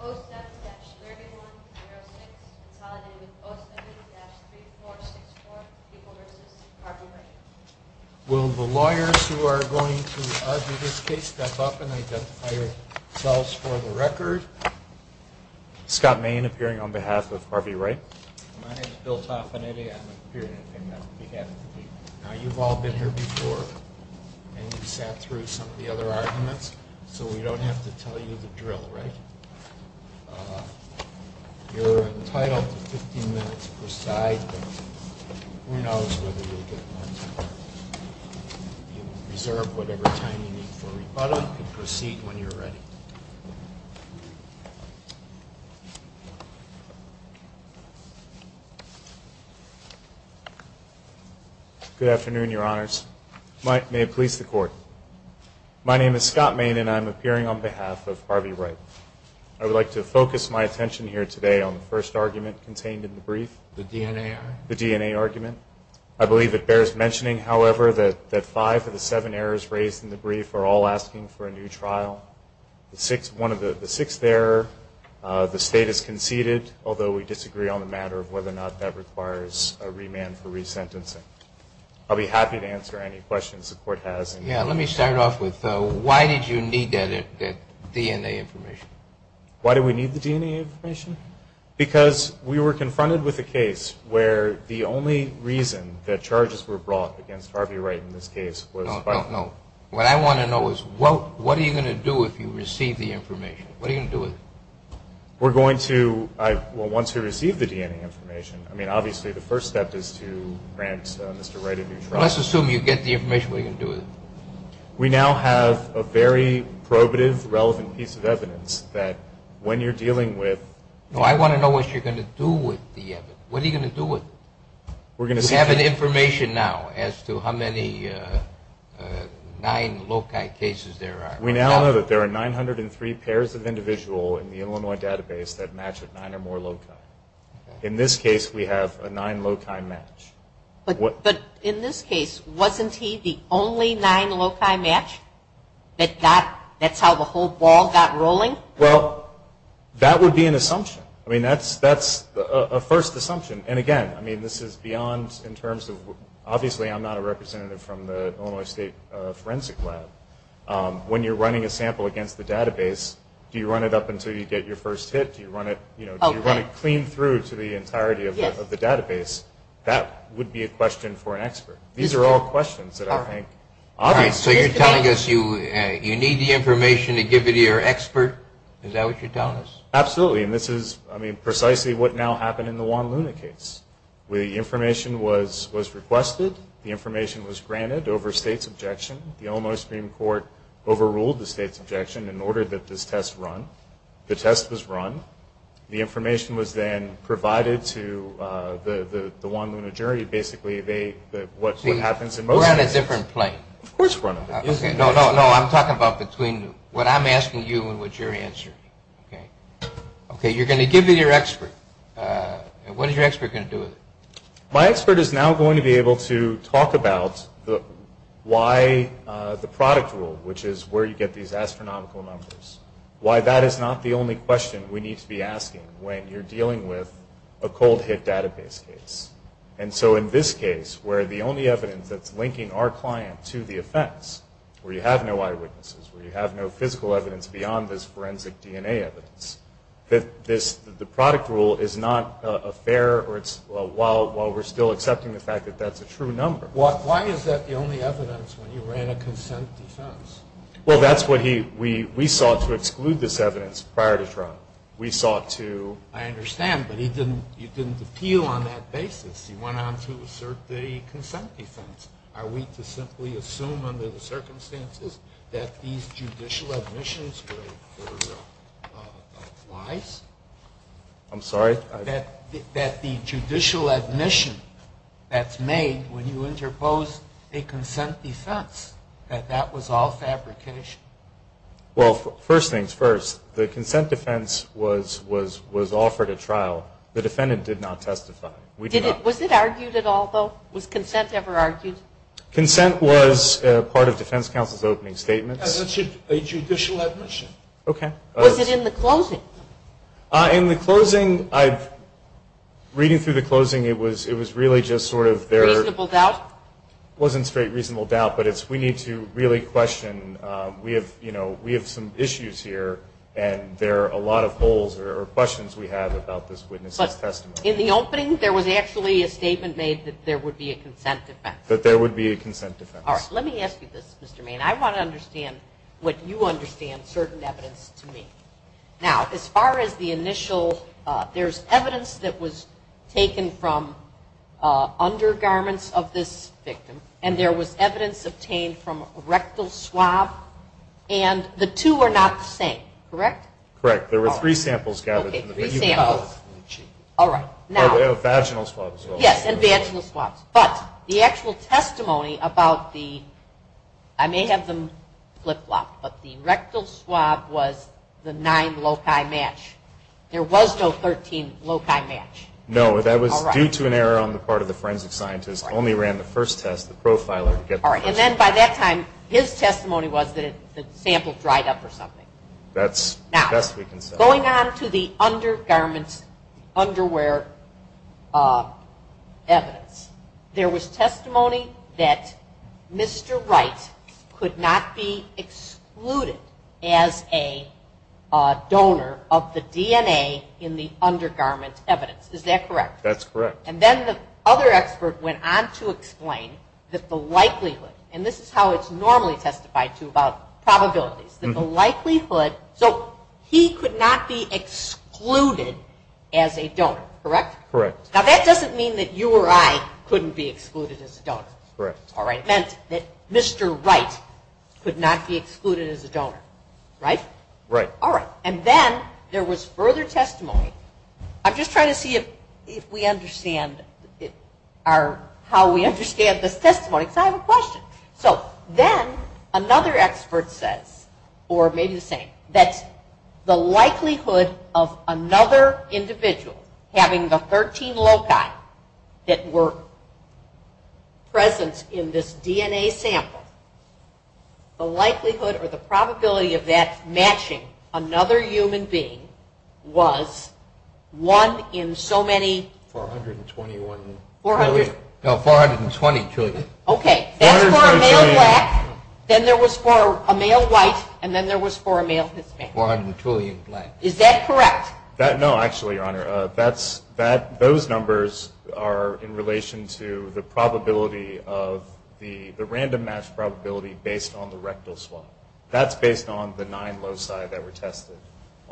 07-3106 consolidated with 07-3464 people v. Harvey Wright Will the lawyers who are going to argue this case step up and identify yourselves for the record? Scott Main appearing on behalf of Harvey Wright My name is Bill Tofanetti. I'm appearing on behalf of the people Now you've all been here before and you've sat through some of the other arguments, so we don't have to tell you the drill, right? You're entitled to 15 minutes per side, but who knows whether you'll get more time. You can reserve whatever time you need for rebuttal and proceed when you're ready. Scott Main appearing on behalf of Harvey Wright Good afternoon, Your Honors. May it please the Court. My name is Scott Main and I'm appearing on behalf of Harvey Wright. I would like to focus my attention here today on the first argument contained in the brief. The DNA error? The DNA argument. I believe it bears mentioning, however, that five of the seven errors raised in the brief are all asking for a new trial. The sixth error, the State has conceded, although we disagree on the matter of whether or not that requires a remand for resentencing. I'll be happy to answer any questions the Court has. Let me start off with why did you need that DNA information? Why did we need the DNA information? Because we were confronted with a case where the only reason that charges were brought against Harvey Wright in this case was by... No, no, no. What I want to know is what are you going to do if you receive the information? What are you going to do with it? We're going to, once we receive the DNA information, I mean, obviously the first step is to grant Mr. Wright a new trial. Let's assume you get the information, what are you going to do with it? We now have a very probative, relevant piece of evidence that when you're dealing with... No, I want to know what you're going to do with the evidence. What are you going to do with it? We're going to... You have the information now as to how many nine loci cases there are. We now know that there are 903 pairs of individual in the Illinois database that match with nine or more loci. In this case, we have a nine loci match. But in this case, wasn't he the only nine loci match? That's how the whole ball got rolling? Well, that would be an assumption. I mean, that's a first assumption. And again, I mean, this is beyond in terms of... Obviously, I'm not a representative from the Illinois State Forensic Lab. When you're running a sample against the database, do you run it up until you get your first hit? Do you run it clean through to the entirety of the database? That would be a question for an expert. These are all questions that I think... All right. So you're telling us you need the information to give it to your expert? Is that what you're telling us? Absolutely. And this is, I mean, precisely what now happened in the Juan Luna case. The information was requested. The information was granted over state's objection. The Illinois Supreme Court overruled the state's objection and ordered that this test run. The test was run. The information was then provided to the Juan Luna jury. Basically, what happens in most cases... See, we're on a different plane. Of course we're on a different plane. No, no, no. I'm talking about between what I'm asking you and what you're answering. Okay? Okay, you're going to give it to your expert. What is your expert going to do with it? My expert is now going to be able to talk about why the product rule, which is where you get these astronomical numbers, why that is not the only question we need to be asking when you're dealing with a cold hit database case. And so in this case, where the only evidence that's linking our client to the offense, where you have no eyewitnesses, where you have no physical evidence beyond this forensic DNA evidence, that the product rule is not a fair or it's while we're still accepting the fact that that's a true number. Why is that the only evidence when you ran a consent defense? Well, that's what he, we sought to exclude this evidence prior to trial. We sought to. I understand, but he didn't appeal on that basis. He went on to assert the consent defense. Are we to simply assume under the circumstances that these judicial admissions were lies? I'm sorry? That the judicial admission that's made when you interpose a consent defense, that that was all fabrication? Well, first things first. The consent defense was offered at trial. The defendant did not testify. Was it argued at all, though? Was consent ever argued? Consent was part of defense counsel's opening statements. That's a judicial admission. Okay. Was it in the closing? In the closing, reading through the closing, it was really just sort of there. Reasonable doubt? It wasn't straight reasonable doubt, but it's we need to really question. We have some issues here, and there are a lot of holes or questions we have about this witness's testimony. In the opening, there was actually a statement made that there would be a consent defense. That there would be a consent defense. All right. Let me ask you this, Mr. Maine. I want to understand what you understand certain evidence to mean. Now, as far as the initial, there's evidence that was taken from undergarments of this victim, and there was evidence obtained from rectal swab, and the two are not the same. Correct? Correct. There were three samples gathered. Okay, three samples. All right. Vaginal swabs. Yes, and vaginal swabs. But the actual testimony about the, I may have them flip-flopped, but the rectal swab was the nine loci match. There was no 13 loci match. No, that was due to an error on the part of the forensic scientist. Only ran the first test, the profiler. All right, and then by that time, his testimony was that the sample dried up or something. That's the best we can say. Now, going on to the undergarments underwear evidence, there was testimony that Mr. Wright could not be excluded as a donor of the DNA in the undergarment evidence. Is that correct? That's correct. And then the other expert went on to explain that the likelihood, and this is how it's normally testified to about probabilities, that the likelihood, so he could not be excluded as a donor, correct? Correct. Now, that doesn't mean that you or I couldn't be excluded as a donor. Correct. All right, it meant that Mr. Wright could not be excluded as a donor, right? Right. All right, and then there was further testimony. I'm just trying to see if we understand how we understand this testimony, because I have a question. So then another expert says, or maybe the same, that the likelihood of another individual having the 13 loci that were present in this DNA sample, the likelihood or the probability of that matching another human being was one in so many... 421 trillion. No, 420 trillion. Okay, that's for a male black, then there was for a male white, and then there was for a male Hispanic. 420 trillion black. Is that correct? No, actually, Your Honor, those numbers are in relation to the probability of the random match probability based on the rectal swab. That's based on the nine loci that were tested.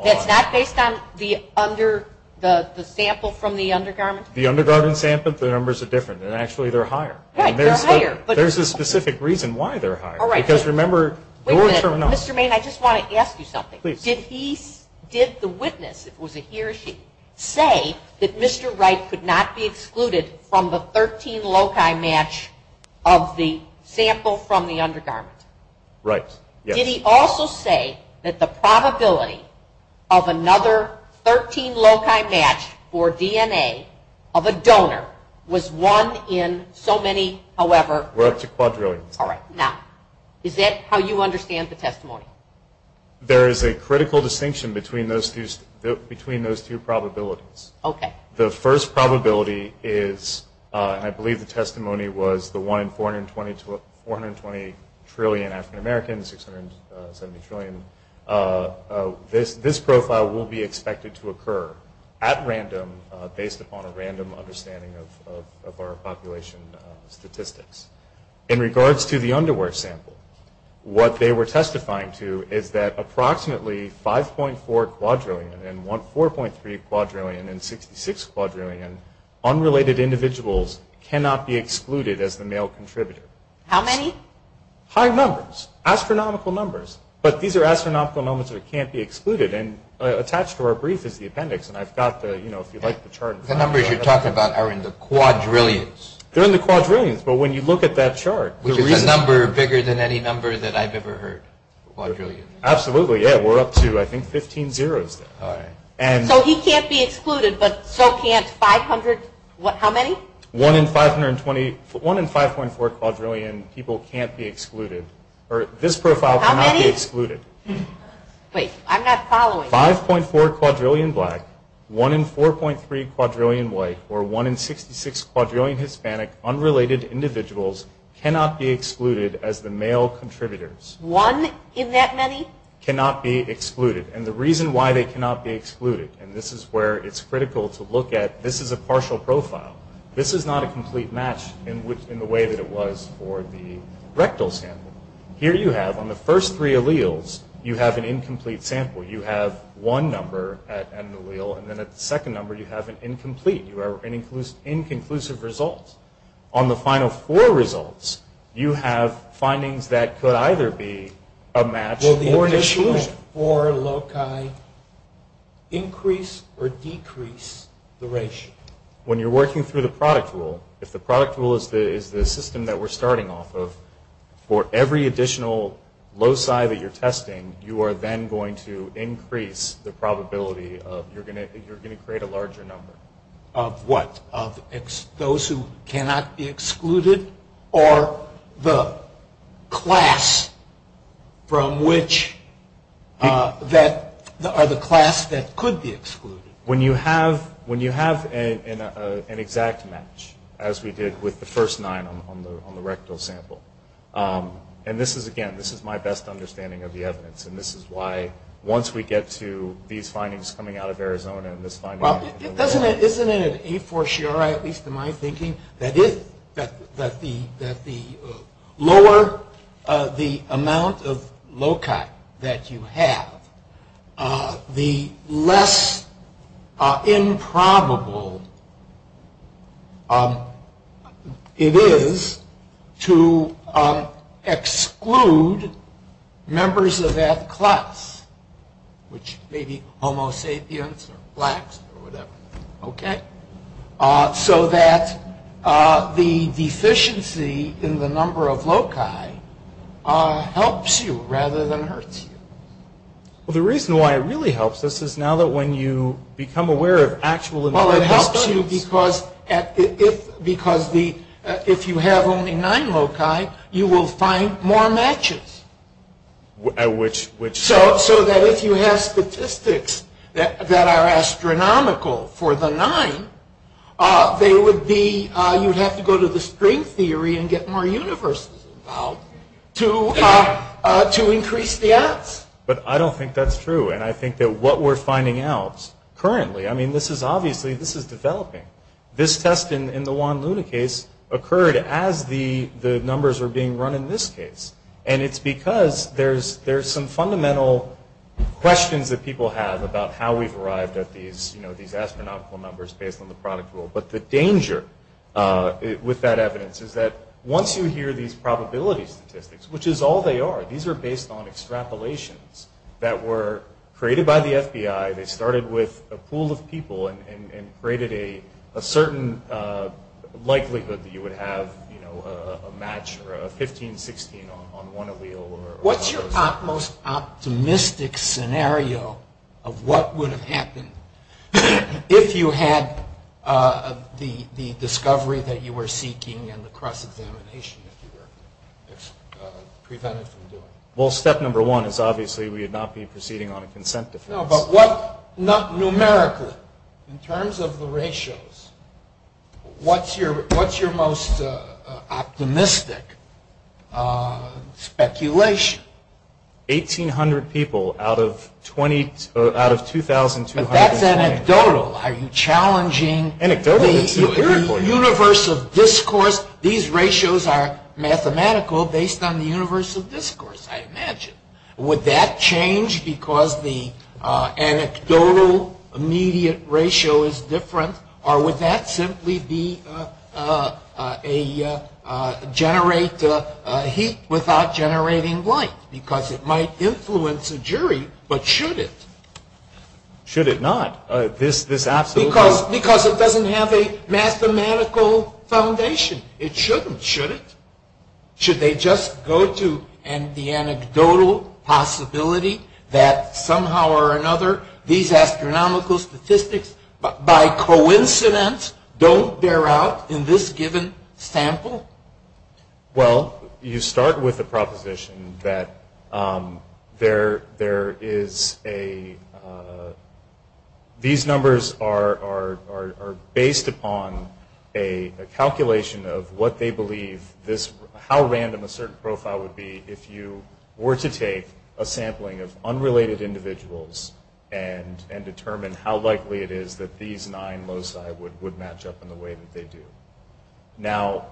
That's not based on the sample from the undergarment? The undergarment sample, the numbers are different, and actually they're higher. Right, they're higher. There's a specific reason why they're higher. Wait a minute, Mr. Maine, I just want to ask you something. Did the witness, if it was a he or she, say that Mr. Wright could not be excluded from the 13 loci match of the sample from the undergarment? Right, yes. Did he also say that the probability of another 13 loci match for DNA of a donor was one in so many, however... 420 trillion. All right, now, is that how you understand the testimony? There is a critical distinction between those two probabilities. The first probability is, and I believe the testimony was, the one in 420 trillion African Americans, 670 trillion. This profile will be expected to occur at random based upon a random understanding of our population statistics. In regards to the underwear sample, what they were testifying to is that approximately 5.4 quadrillion and 4.3 quadrillion and 66 quadrillion unrelated individuals cannot be excluded as the male contributor. How many? High numbers, astronomical numbers, but these are astronomical numbers that can't be excluded, and attached to our brief is the appendix, and I've got the, you know, if you'd like the chart. The numbers you're talking about are in the quadrillions. They're in the quadrillions, but when you look at that chart... Which is a number bigger than any number that I've ever heard, quadrillion. Absolutely, yeah, we're up to, I think, 15 zeros there. All right. So he can't be excluded, but so can't 500, what, how many? One in 520, one in 5.4 quadrillion people can't be excluded, or this profile cannot be excluded. How many? Wait, I'm not following. 5.4 quadrillion black, one in 4.3 quadrillion white, or one in 66 quadrillion Hispanic, unrelated individuals, cannot be excluded as the male contributors. One in that many? Cannot be excluded, and the reason why they cannot be excluded, and this is where it's critical to look at, this is a partial profile. This is not a complete match in the way that it was for the rectal sample. Here you have, on the first three alleles, you have an incomplete sample. You have one number at an allele, and then at the second number you have an incomplete, you have an inconclusive result. On the final four results, you have findings that could either be a match or an exclusion. Will the additional four loci increase or decrease the ratio? When you're working through the product rule, if the product rule is the system that we're starting off with, for every additional loci that you're testing, you are then going to increase the probability that you're going to create a larger number. Of what? Of those who cannot be excluded, or the class that could be excluded? When you have an exact match, as we did with the first nine on the rectal sample, and this is, again, this is my best understanding of the evidence, and this is why, once we get to these findings coming out of Arizona, and this finding out of Arizona. Isn't it a for sure, at least in my thinking, that the lower the amount of loci that you have, the less improbable it is to exclude members of that class, which may be homo sapiens or blacks or whatever, okay? So that the deficiency in the number of loci helps you rather than hurts you. Well, the reason why it really helps us is now that when you become aware of actual... Well, it helps you because if you have only nine loci, you will find more matches. At which... So that if you have statistics that are astronomical for the nine, you would have to go to the string theory and get more universes involved to increase the odds. But I don't think that's true, and I think that what we're finding out currently, I mean, this is obviously, this is developing. This test in the Juan Luna case occurred as the numbers were being run in this case, and it's because there's some fundamental questions that people have about how we've arrived at these astronomical numbers based on the product rule. But the danger with that evidence is that once you hear these probability statistics, which is all they are, these are based on extrapolations that were created by the FBI. They started with a pool of people and created a certain likelihood that you would have a match or a 15-16 on one allele. What's your most optimistic scenario of what would have happened if you had the discovery that you were seeking and the cross-examination if you were prevented from doing it? Well, step number one is obviously we would not be proceeding on a consent defense. No, but what, not numerically, in terms of the ratios, what's your most optimistic speculation? 1,800 people out of 2,200. But that's anecdotal. Are you challenging the universe of discourse? These ratios are mathematical based on the universe of discourse, I imagine. Would that change because the anecdotal immediate ratio is different or would that simply generate heat without generating light? Because it might influence a jury, but should it? Should it not? Because it doesn't have a mathematical foundation. It shouldn't, should it? Should they just go to the anecdotal possibility that somehow or another these astronomical statistics, by coincidence, don't bear out in this given sample? Well, you start with the proposition that there is a, these numbers are based upon a calculation of what they believe this, how random a certain profile would be if you were to take a sampling of unrelated individuals and determine how likely it is that these nine loci would match up in the way that they do. Now,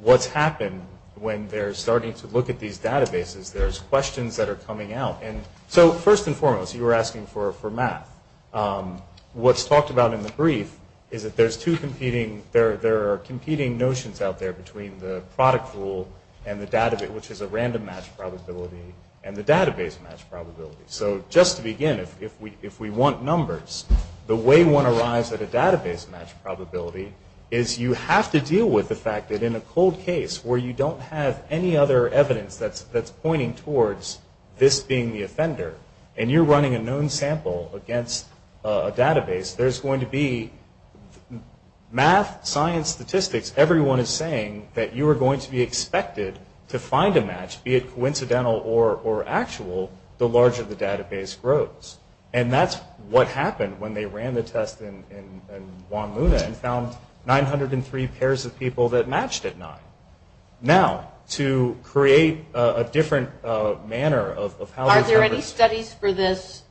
what's happened when they're starting to look at these databases, there's questions that are coming out. And so, first and foremost, you were asking for math. What's talked about in the brief is that there's two competing, there are competing notions out there between the product rule and the database, which is a random match probability, and the database match probability. So just to begin, if we want numbers, the way one arrives at a database match probability is you have to deal with the fact that in a cold case where you don't have any other evidence that's pointing towards this being the offender, and you're running a known sample against a database, there's going to be math, science, statistics, everyone is saying that you are going to be expected to find a match, be it coincidental or actual, the larger the database grows. And that's what happened when they ran the test in Juan Luna and found 903 pairs of people that matched at nine. Now, to create a different manner of how these numbers... Are there any studies for this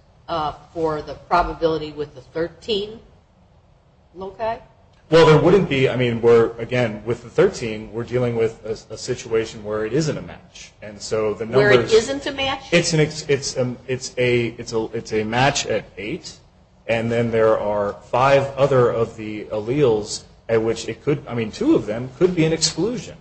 for the probability with the 13 loci? Well, there wouldn't be. I mean, again, with the 13, we're dealing with a situation where it isn't a match, and so the numbers... Where it isn't a match? It's a match at eight, and then there are five other of the alleles at which it could... I mean, two of them could be an exclusion.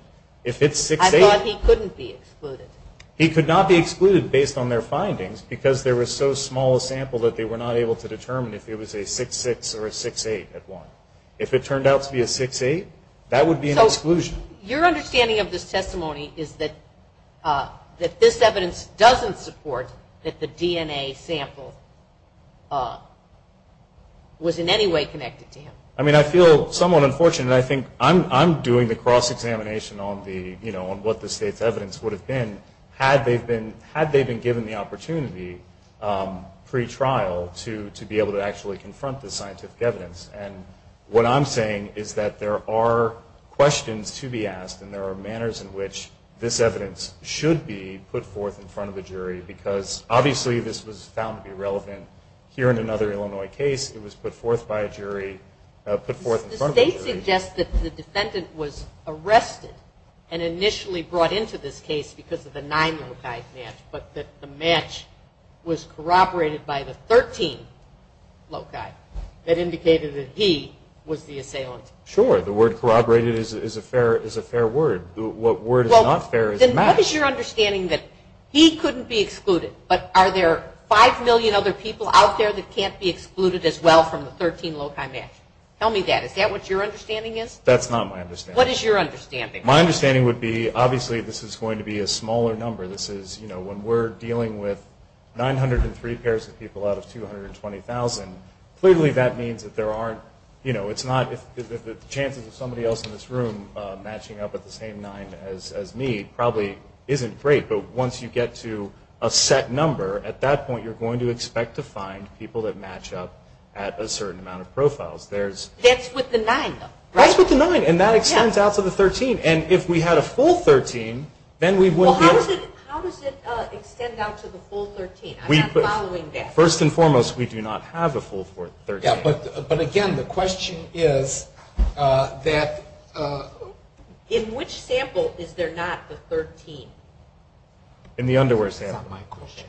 I thought he couldn't be excluded. He could not be excluded based on their findings because there was so small a sample that they were not able to determine if it was a 6-6 or a 6-8 at one. If it turned out to be a 6-8, that would be an exclusion. So your understanding of this testimony is that this evidence doesn't support that the DNA sample was in any way connected to him? I mean, I feel somewhat unfortunate. I think I'm doing the cross-examination on what the state's evidence would have been had they been given the opportunity pre-trial to be able to actually confront the scientific evidence. And what I'm saying is that there are questions to be asked, and there are manners in which this evidence should be put forth in front of a jury because obviously this was found to be relevant here in another Illinois case. It was put forth by a jury, put forth in front of a jury. The state suggests that the defendant was arrested and initially brought into this case because of the 9-loci match, but that the match was corroborated by the 13-loci guy that indicated that he was the assailant. Sure, the word corroborated is a fair word. What word is not fair is match. What is your understanding that he couldn't be excluded, but are there 5 million other people out there that can't be excluded as well from the 13-loci match? Tell me that. Is that what your understanding is? That's not my understanding. What is your understanding? My understanding would be obviously this is going to be a smaller number. This is, you know, when we're dealing with 903 pairs of people out of 220,000, clearly that means that there aren't, you know, it's not if the chances of somebody else in this room matching up at the same 9 as me probably isn't great, but once you get to a set number, at that point you're going to expect to find people that match up at a certain amount of profiles. That's with the 9, though, right? That's with the 9, and that extends out to the 13, and if we had a full 13, then we wouldn't be able to. Well, how does it extend out to the full 13? I'm not following that. First and foremost, we do not have a full 13. Yeah, but, again, the question is that. In which sample is there not the 13? In the underwear sample. That's not my question.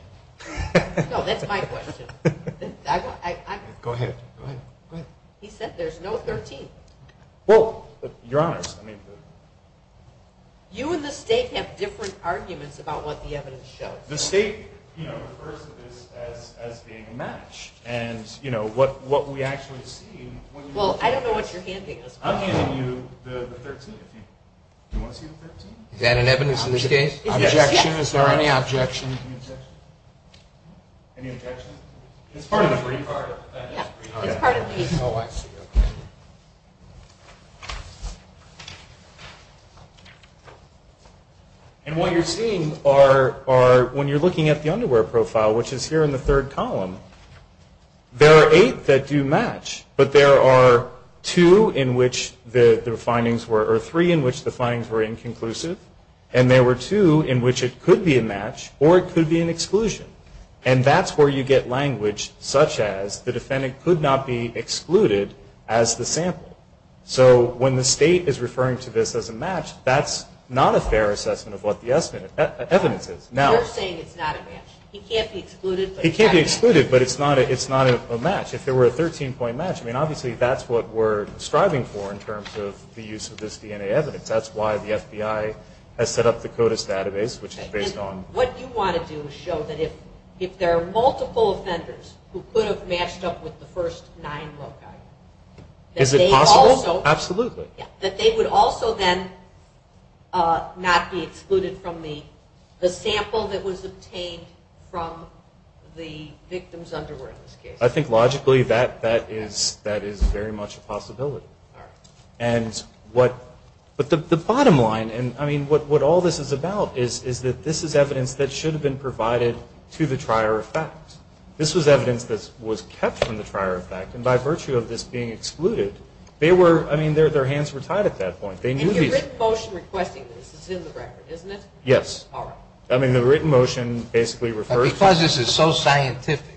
No, that's my question. Go ahead. Go ahead. He said there's no 13. Well, Your Honors, I mean. You and the State have different arguments about what the evidence shows. The State, you know, refers to this as being a match, and, you know, what we actually see. Well, I don't know what you're handing us. I'm handing you the 13. Do you want to see the 13? Is that an evidence in this case? Objection. Is there any objection? Any objection? It's part of the brief. It's part of the brief. And what you're seeing are, when you're looking at the underwear profile, which is here in the third column, there are eight that do match, but there are two in which the findings were, or three in which the findings were inconclusive, and there were two in which it could be a match or it could be an exclusion. And that's where you get language such as, the defendant could not be excluded as the sample. So when the State is referring to this as a match, that's not a fair assessment of what the evidence is. You're saying it's not a match. He can't be excluded. He can't be excluded, but it's not a match. If there were a 13-point match, I mean, obviously that's what we're striving for in terms of the use of this DNA evidence. That's why the FBI has set up the CODIS database, which is based on. What you want to do is show that if there are multiple offenders who could have matched up with the first nine loci, that they would also then not be excluded from the sample that was obtained from the victims' underwear in this case. I think logically that is very much a possibility. All right. But the bottom line, and, I mean, what all this is about, is that this is evidence that should have been provided to the trier of fact. This was evidence that was kept from the trier of fact, and by virtue of this being excluded, they were, I mean, their hands were tied at that point. And your written motion requesting this is in the record, isn't it? Yes. All right. I mean, the written motion basically refers to... But because this is so scientific,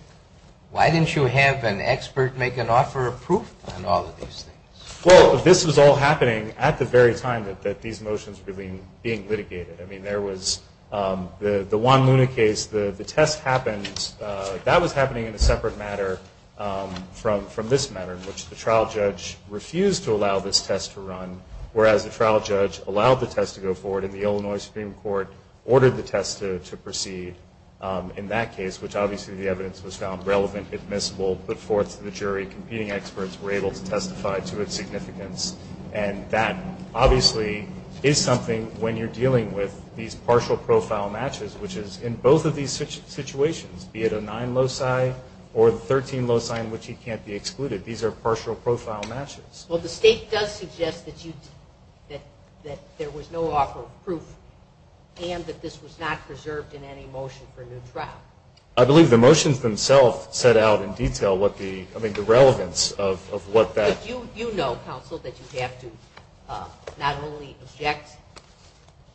why didn't you have an expert make an offer of proof on all of these things? Well, this was all happening at the very time that these motions were being litigated. I mean, there was the Juan Luna case. The test happened... That was happening in a separate matter from this matter, in which the trial judge refused to allow this test to run, whereas the trial judge allowed the test to go forward, and the Illinois Supreme Court ordered the test to proceed in that case, which obviously the evidence was found relevant, admissible, put forth to the jury. Competing experts were able to testify to its significance. And that obviously is something when you're dealing with these partial profile matches, which is in both of these situations, be it a 9 loci or the 13 loci in which he can't be excluded. These are partial profile matches. Well, the State does suggest that there was no offer of proof and that this was not preserved in any motion for a new trial. I believe the motions themselves set out in detail what the... I mean, the relevance of what that... You know, counsel, that you have to not only object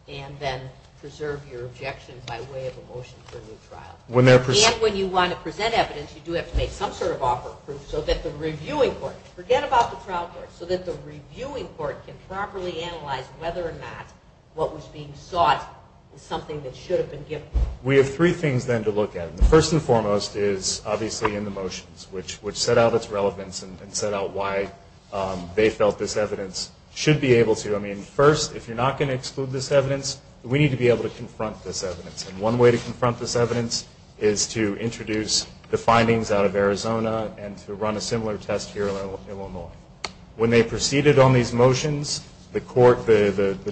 and then preserve your objections by way of a motion for a new trial. And when you want to present evidence, you do have to make some sort of offer of proof so that the reviewing court, forget about the trial court, so that the reviewing court can properly analyze whether or not what was being sought was something that should have been given. We have three things, then, to look at. The first and foremost is obviously in the motions, which set out its relevance and set out why they felt this evidence should be able to. I mean, first, if you're not going to exclude this evidence, we need to be able to confront this evidence. And one way to confront this evidence is to introduce the findings out of Arizona and to run a similar test here in Illinois. When they proceeded on these motions, the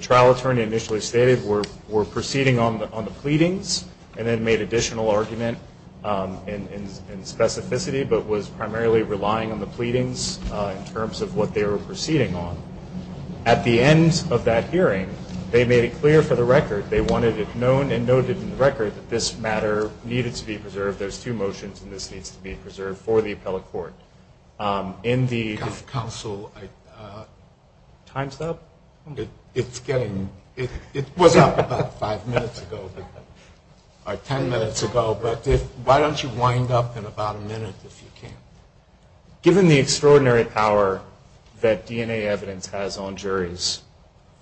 trial attorney initially stated we're proceeding on the pleadings and then made additional argument in specificity. But was primarily relying on the pleadings in terms of what they were proceeding on. At the end of that hearing, they made it clear for the record, they wanted it known and noted in the record that this matter needed to be preserved. There's two motions, and this needs to be preserved for the appellate court. Council, time's up? It was up about five minutes ago, or ten minutes ago. Why don't you wind up in about a minute if you can. Given the extraordinary power that DNA evidence has on juries,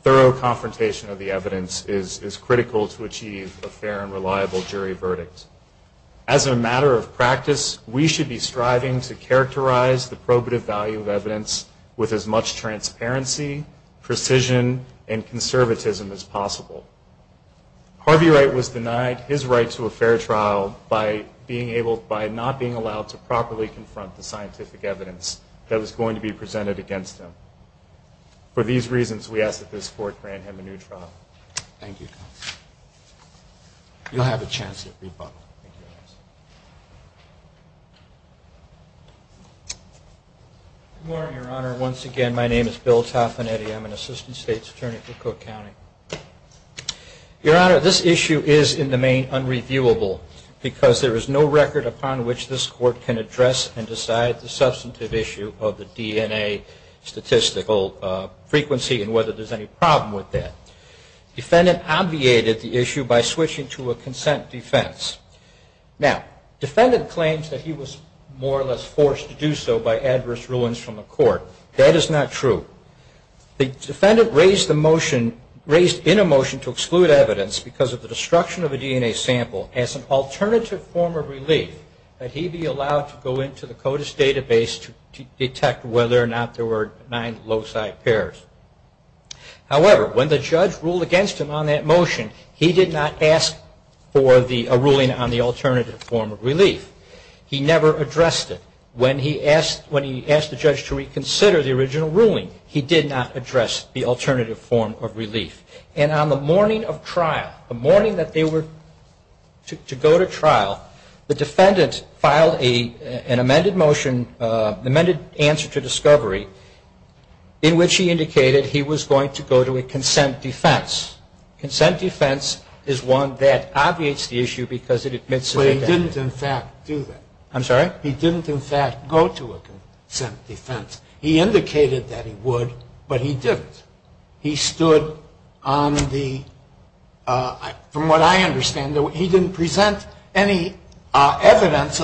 thorough confrontation of the evidence is critical to achieve a fair and reliable jury verdict. As a matter of practice, we should be striving to characterize the probative value of evidence with as much transparency, precision, and conservatism as possible. Harvey Wright was denied his right to a fair trial by not being allowed to properly confront the scientific evidence that was going to be presented against him. For these reasons, we ask that this court grant him a new trial. Thank you. You'll have a chance to rebut. Good morning, Your Honor. Once again, my name is Bill Tafanetti. I'm an Assistant State's Attorney for Cook County. Your Honor, this issue is in the main unreviewable because there is no record upon which this court can address and decide the substantive issue of the DNA statistical frequency and whether there's any problem with that. Defendant obviated the issue by switching to a consent defense. Now, defendant claims that he was more or less forced to do so by adverse rulings from the court. That is not true. The defendant raised in a motion to exclude evidence because of the destruction of a DNA sample as an alternative form of relief that he be allowed to go into the CODIS database to detect whether or not there were nine loci pairs. However, when the judge ruled against him on that motion, he did not ask for a ruling on the alternative form of relief. He never addressed it. When he asked the judge to reconsider the original ruling, he did not address the alternative form of relief. And on the morning of trial, the morning that they were to go to trial, the defendant filed an amended motion, an amended answer to discovery, in which he indicated he was going to go to a consent defense. Consent defense is one that obviates the issue because it admits to the fact. But he didn't, in fact, do that. I'm sorry? He didn't, in fact, go to a consent defense. He indicated that he would, but he didn't. He stood on the, from what I understand, he didn't present any evidence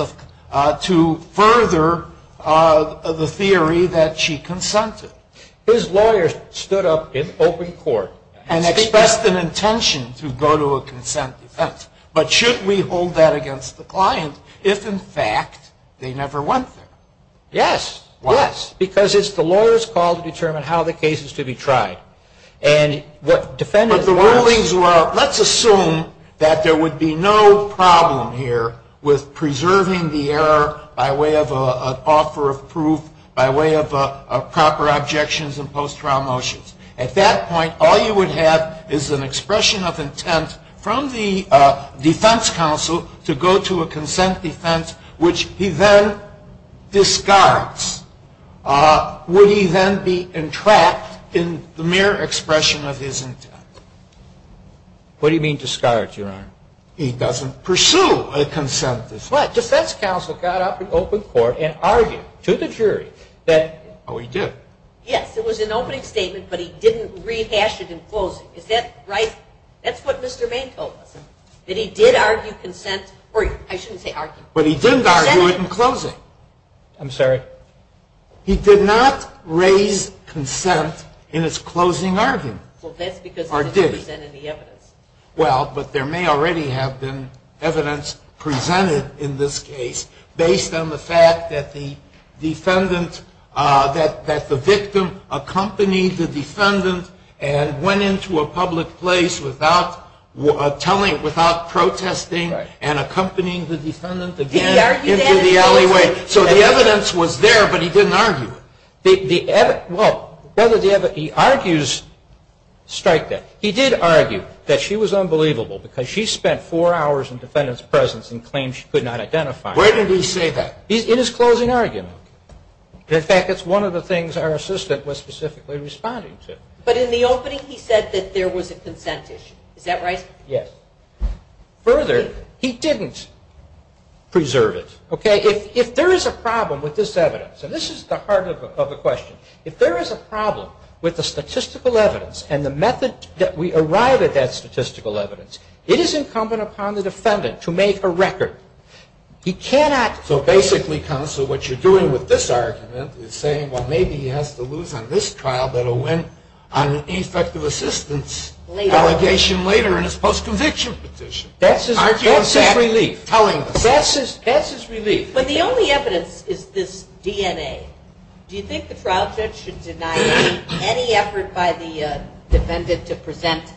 to further the theory that she consented. His lawyer stood up in open court. And expressed an intention to go to a consent defense. But should we hold that against the client if, in fact, they never went there? Yes. Why? Yes. Because it's the lawyer's call to determine how the case is to be tried. And what defendants. But the rulings were, let's assume that there would be no problem here with preserving the error by way of an offer of proof, by way of proper objections and post-trial motions. At that point, all you would have is an expression of intent from the defense counsel to go to a consent defense, which he then discards. Would he then be entrapped in the mere expression of his intent? What do you mean, discards, Your Honor? He doesn't pursue a consent defense. But defense counsel got up in open court and argued to the jury that... Oh, he did? Yes. It was an opening statement, but he didn't rehash it in closing. Is that right? That's what Mr. Maine told us, that he did argue consent... I shouldn't say argue. But he didn't argue it in closing. I'm sorry? He did not raise consent in his closing argument. Well, that's because he didn't present any evidence. Well, but there may already have been evidence presented in this case based on the fact that the defendant, that the victim accompanied the defendant and went into a public place without telling, without protesting and accompanying the defendant again into the alleyway. So the evidence was there, but he didn't argue it. Well, he argues strike that. He did argue that she was unbelievable because she spent four hours in the defendant's presence and claimed she could not identify her. Where did he say that? In his closing argument. In fact, it's one of the things our assistant was specifically responding to. But in the opening he said that there was a consent issue. Is that right? Yes. Further, he didn't preserve it. Okay? If there is a problem with this evidence, and this is the heart of the question, if there is a problem with the statistical evidence and the method that we arrive at that statistical evidence, it is incumbent upon the defendant to make a record. He cannot... So basically, counsel, what you're doing with this argument is saying, well, maybe he has to lose on this trial, but he'll win on an effective assistance allegation later in his post-conviction petition. That's his relief. That's his relief. But the only evidence is this DNA. Do you think the trial judge should deny any effort by the defendant to present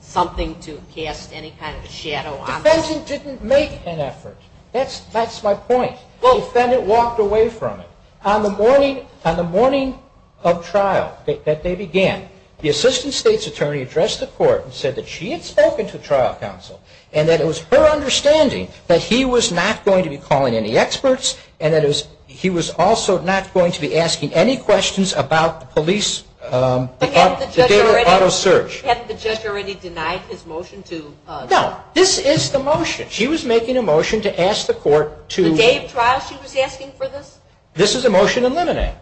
something to cast any kind of a shadow on this? The defendant didn't make an effort. That's my point. The defendant walked away from it. On the morning of trial that they began, the assistant state's attorney addressed the court and said that she had spoken to trial counsel and that it was her understanding that he was not going to be calling any experts and that he was also not going to be asking any questions about the police... But hadn't the judge already denied his motion to... No, this is the motion. She was making a motion to ask the court to... The day of trial she was asking for this? This is a motion in limine.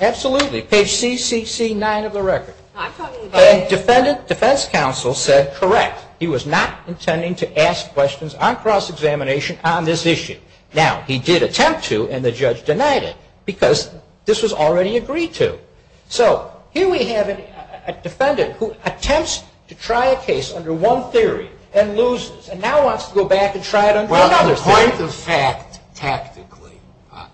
Absolutely. Page CCC 9 of the record. I'm talking about... And defendant defense counsel said correct. He was not intending to ask questions on cross-examination on this issue. Now, he did attempt to and the judge denied it because this was already agreed to. So here we have a defendant who attempts to try a case under one theory and loses and now wants to go back and try it under another theory. Point of fact, tactically,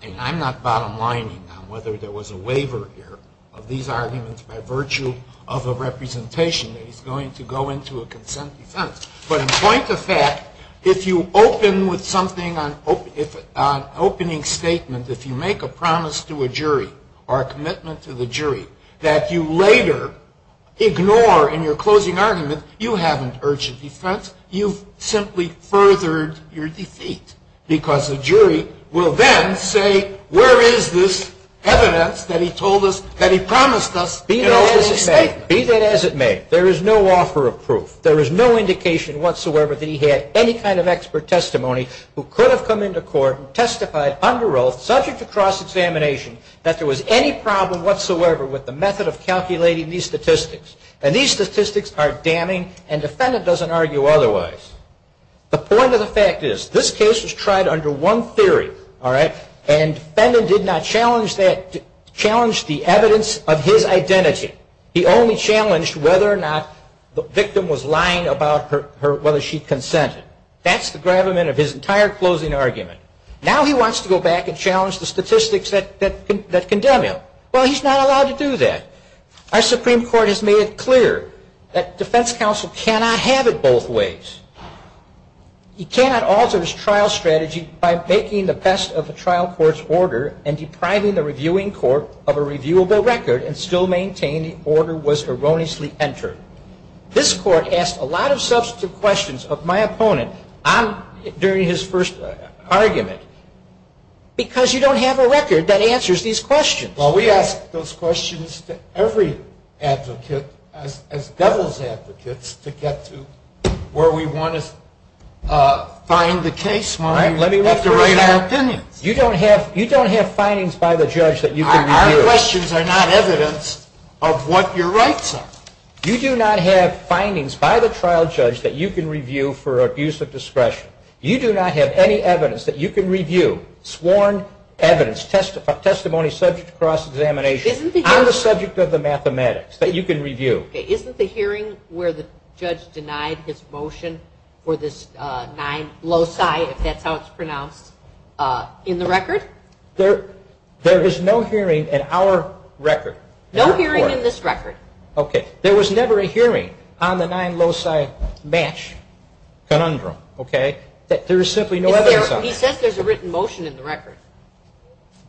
and I'm not bottom lining on whether there was a waiver here of these arguments by virtue of a representation that he's going to go into a consent defense, but in point of fact, if you open with something on opening statement, if you make a promise to a jury or a commitment to the jury that you later ignore in your closing argument, you haven't urged a defense. You've simply furthered your defeat because the jury will then say, where is this evidence that he told us, that he promised us... Be that as it may. Be that as it may. There is no offer of proof. There is no indication whatsoever that he had any kind of expert testimony who could have come into court and testified under oath, subject to cross-examination, that there was any problem whatsoever with the method of calculating these statistics. And these statistics are damning, and the defendant doesn't argue otherwise. The point of the fact is, this case was tried under one theory, all right, and the defendant did not challenge the evidence of his identity. He only challenged whether or not the victim was lying about whether she consented. That's the gravamen of his entire closing argument. Now he wants to go back and challenge the statistics that condemn him. Well, he's not allowed to do that. Our Supreme Court has made it clear that defense counsel cannot have it both ways. He cannot alter his trial strategy by making the best of a trial court's order and depriving the reviewing court of a reviewable record and still maintain the order was erroneously entered. This court asked a lot of substantive questions of my opponent during his first argument, because you don't have a record that answers these questions. Well, we ask those questions to every advocate, as devil's advocates, to get to where we want to find the case when we have to write our opinions. You don't have findings by the judge that you can review. Our questions are not evidence of what your rights are. You do not have findings by the trial judge that you can review for abuse of discretion. You do not have any evidence that you can review, sworn evidence, testimony subject to cross-examination on the subject of the mathematics that you can review. Okay. Isn't the hearing where the judge denied his motion for this nine loci, if that's how it's pronounced, in the record? There is no hearing in our record. No hearing in this record. Okay. There was never a hearing on the nine loci match conundrum. Okay. There is simply no evidence of it. He says there's a written motion in the record.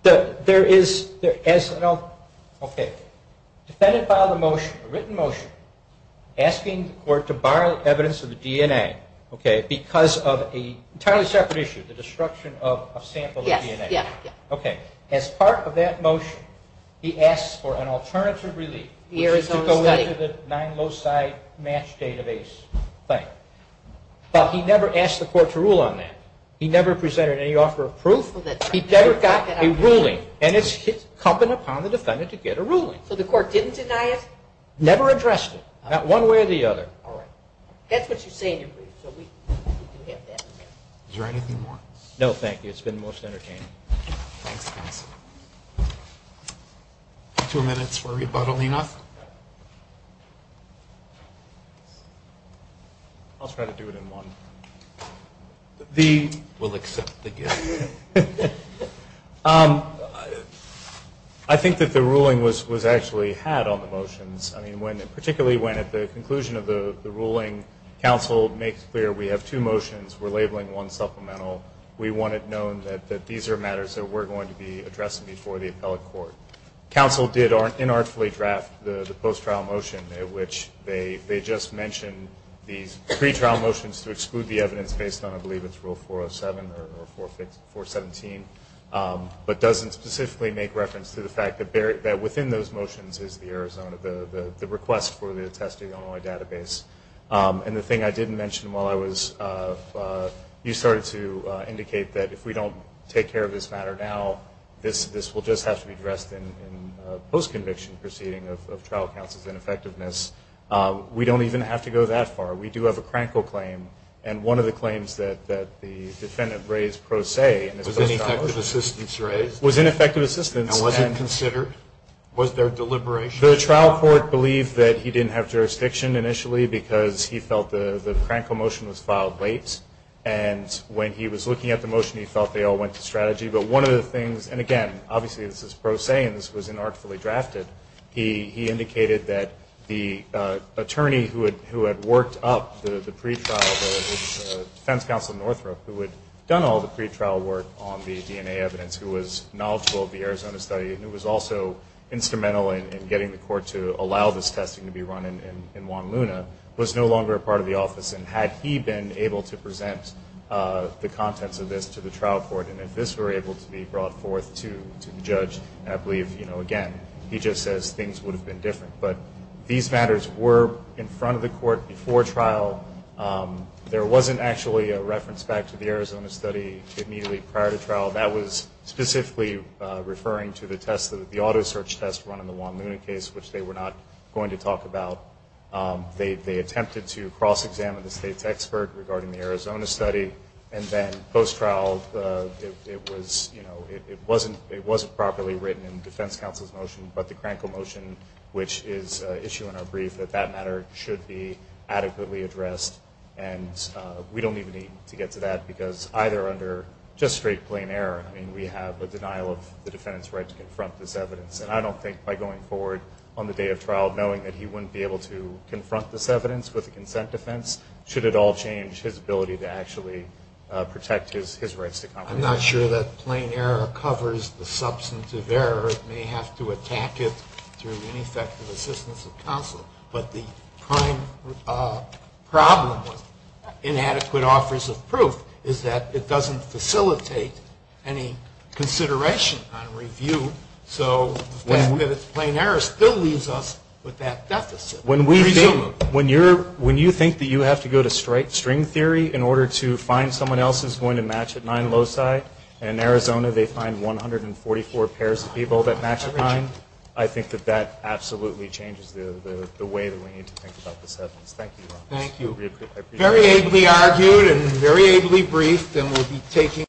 There is. Okay. Defended by the motion, a written motion, asking the court to borrow evidence of the DNA, okay, because of an entirely separate issue, the destruction of a sample of DNA. Yes. Okay. As part of that motion, he asks for an alternative relief, which is to go into the nine loci match database thing. But he never asked the court to rule on that. He never presented any offer of proof. He never got a ruling, and it's incumbent upon the defendant to get a ruling. So the court didn't deny it? Never addressed it, not one way or the other. All right. That's what you say in your brief, so we do have that. Is there anything more? No, thank you. It's been most entertaining. Thanks, counsel. Two minutes for rebuttal, Enoch. I'll try to do it in one. We'll accept the gift. I think that the ruling was actually had on the motions. I mean, particularly when, at the conclusion of the ruling, counsel makes clear we have two motions, we're labeling one supplemental, we want it known that these are matters that we're going to be addressing before the appellate court. Counsel did inartfully draft the post-trial motion, which they just mentioned these pretrial motions to exclude the evidence based on, I believe, it's Rule 407 or 417, but doesn't specifically make reference to the fact that within those motions is the Arizona, the request for the testing on my database. And the thing I didn't mention while I was, you started to indicate that if we don't take care of this matter now, this will just have to be addressed in a post-conviction proceeding of trial counsel's ineffectiveness. We don't even have to go that far. We do have a crankle claim, and one of the claims that the defendant raised pro se in this post-trial motion. Was ineffective assistance raised? Was ineffective assistance. And was it considered? Was there deliberation? The trial court believed that he didn't have jurisdiction initially because he felt the crankle motion was filed late. And when he was looking at the motion, he felt they all went to strategy. But one of the things, and again, obviously this is pro se and this was inartfully drafted, he indicated that the attorney who had worked up the pretrial, the defense counsel in Northrop who had done all the pretrial work on the DNA evidence, who was knowledgeable of the Arizona study, and who was also instrumental in getting the court to allow this testing to be run in Juan Luna, was no longer a part of the office. And had he been able to present the contents of this to the trial court, and if this were able to be brought forth to the judge, I believe, you know, again, he just says things would have been different. But these matters were in front of the court before trial. That was specifically referring to the test, the auto search test run in the Juan Luna case, which they were not going to talk about. They attempted to cross-examine the state's expert regarding the Arizona study. And then post-trial, it was, you know, it wasn't properly written in the defense counsel's motion, but the crankle motion, which is an issue in our brief, that that matter should be adequately addressed. And we don't even need to get to that because either under just straight plain error, I mean, we have a denial of the defendant's right to confront this evidence. And I don't think by going forward on the day of trial, knowing that he wouldn't be able to confront this evidence with a consent defense, should it all change his ability to actually protect his rights to compromise. I'm not sure that plain error covers the substantive error. It may have to attack it through ineffective assistance of counsel. But the prime problem with inadequate offers of proof is that it doesn't facilitate any consideration on review. So the fact that it's plain error still leaves us with that deficit. When you think that you have to go to string theory in order to find someone else who's going to match at nine loci, and in Arizona they find 144 pairs of people that match at nine, I think that that absolutely changes the way that we need to think about this evidence. Thank you. Thank you. Very ably argued and very ably briefed, and we'll be taking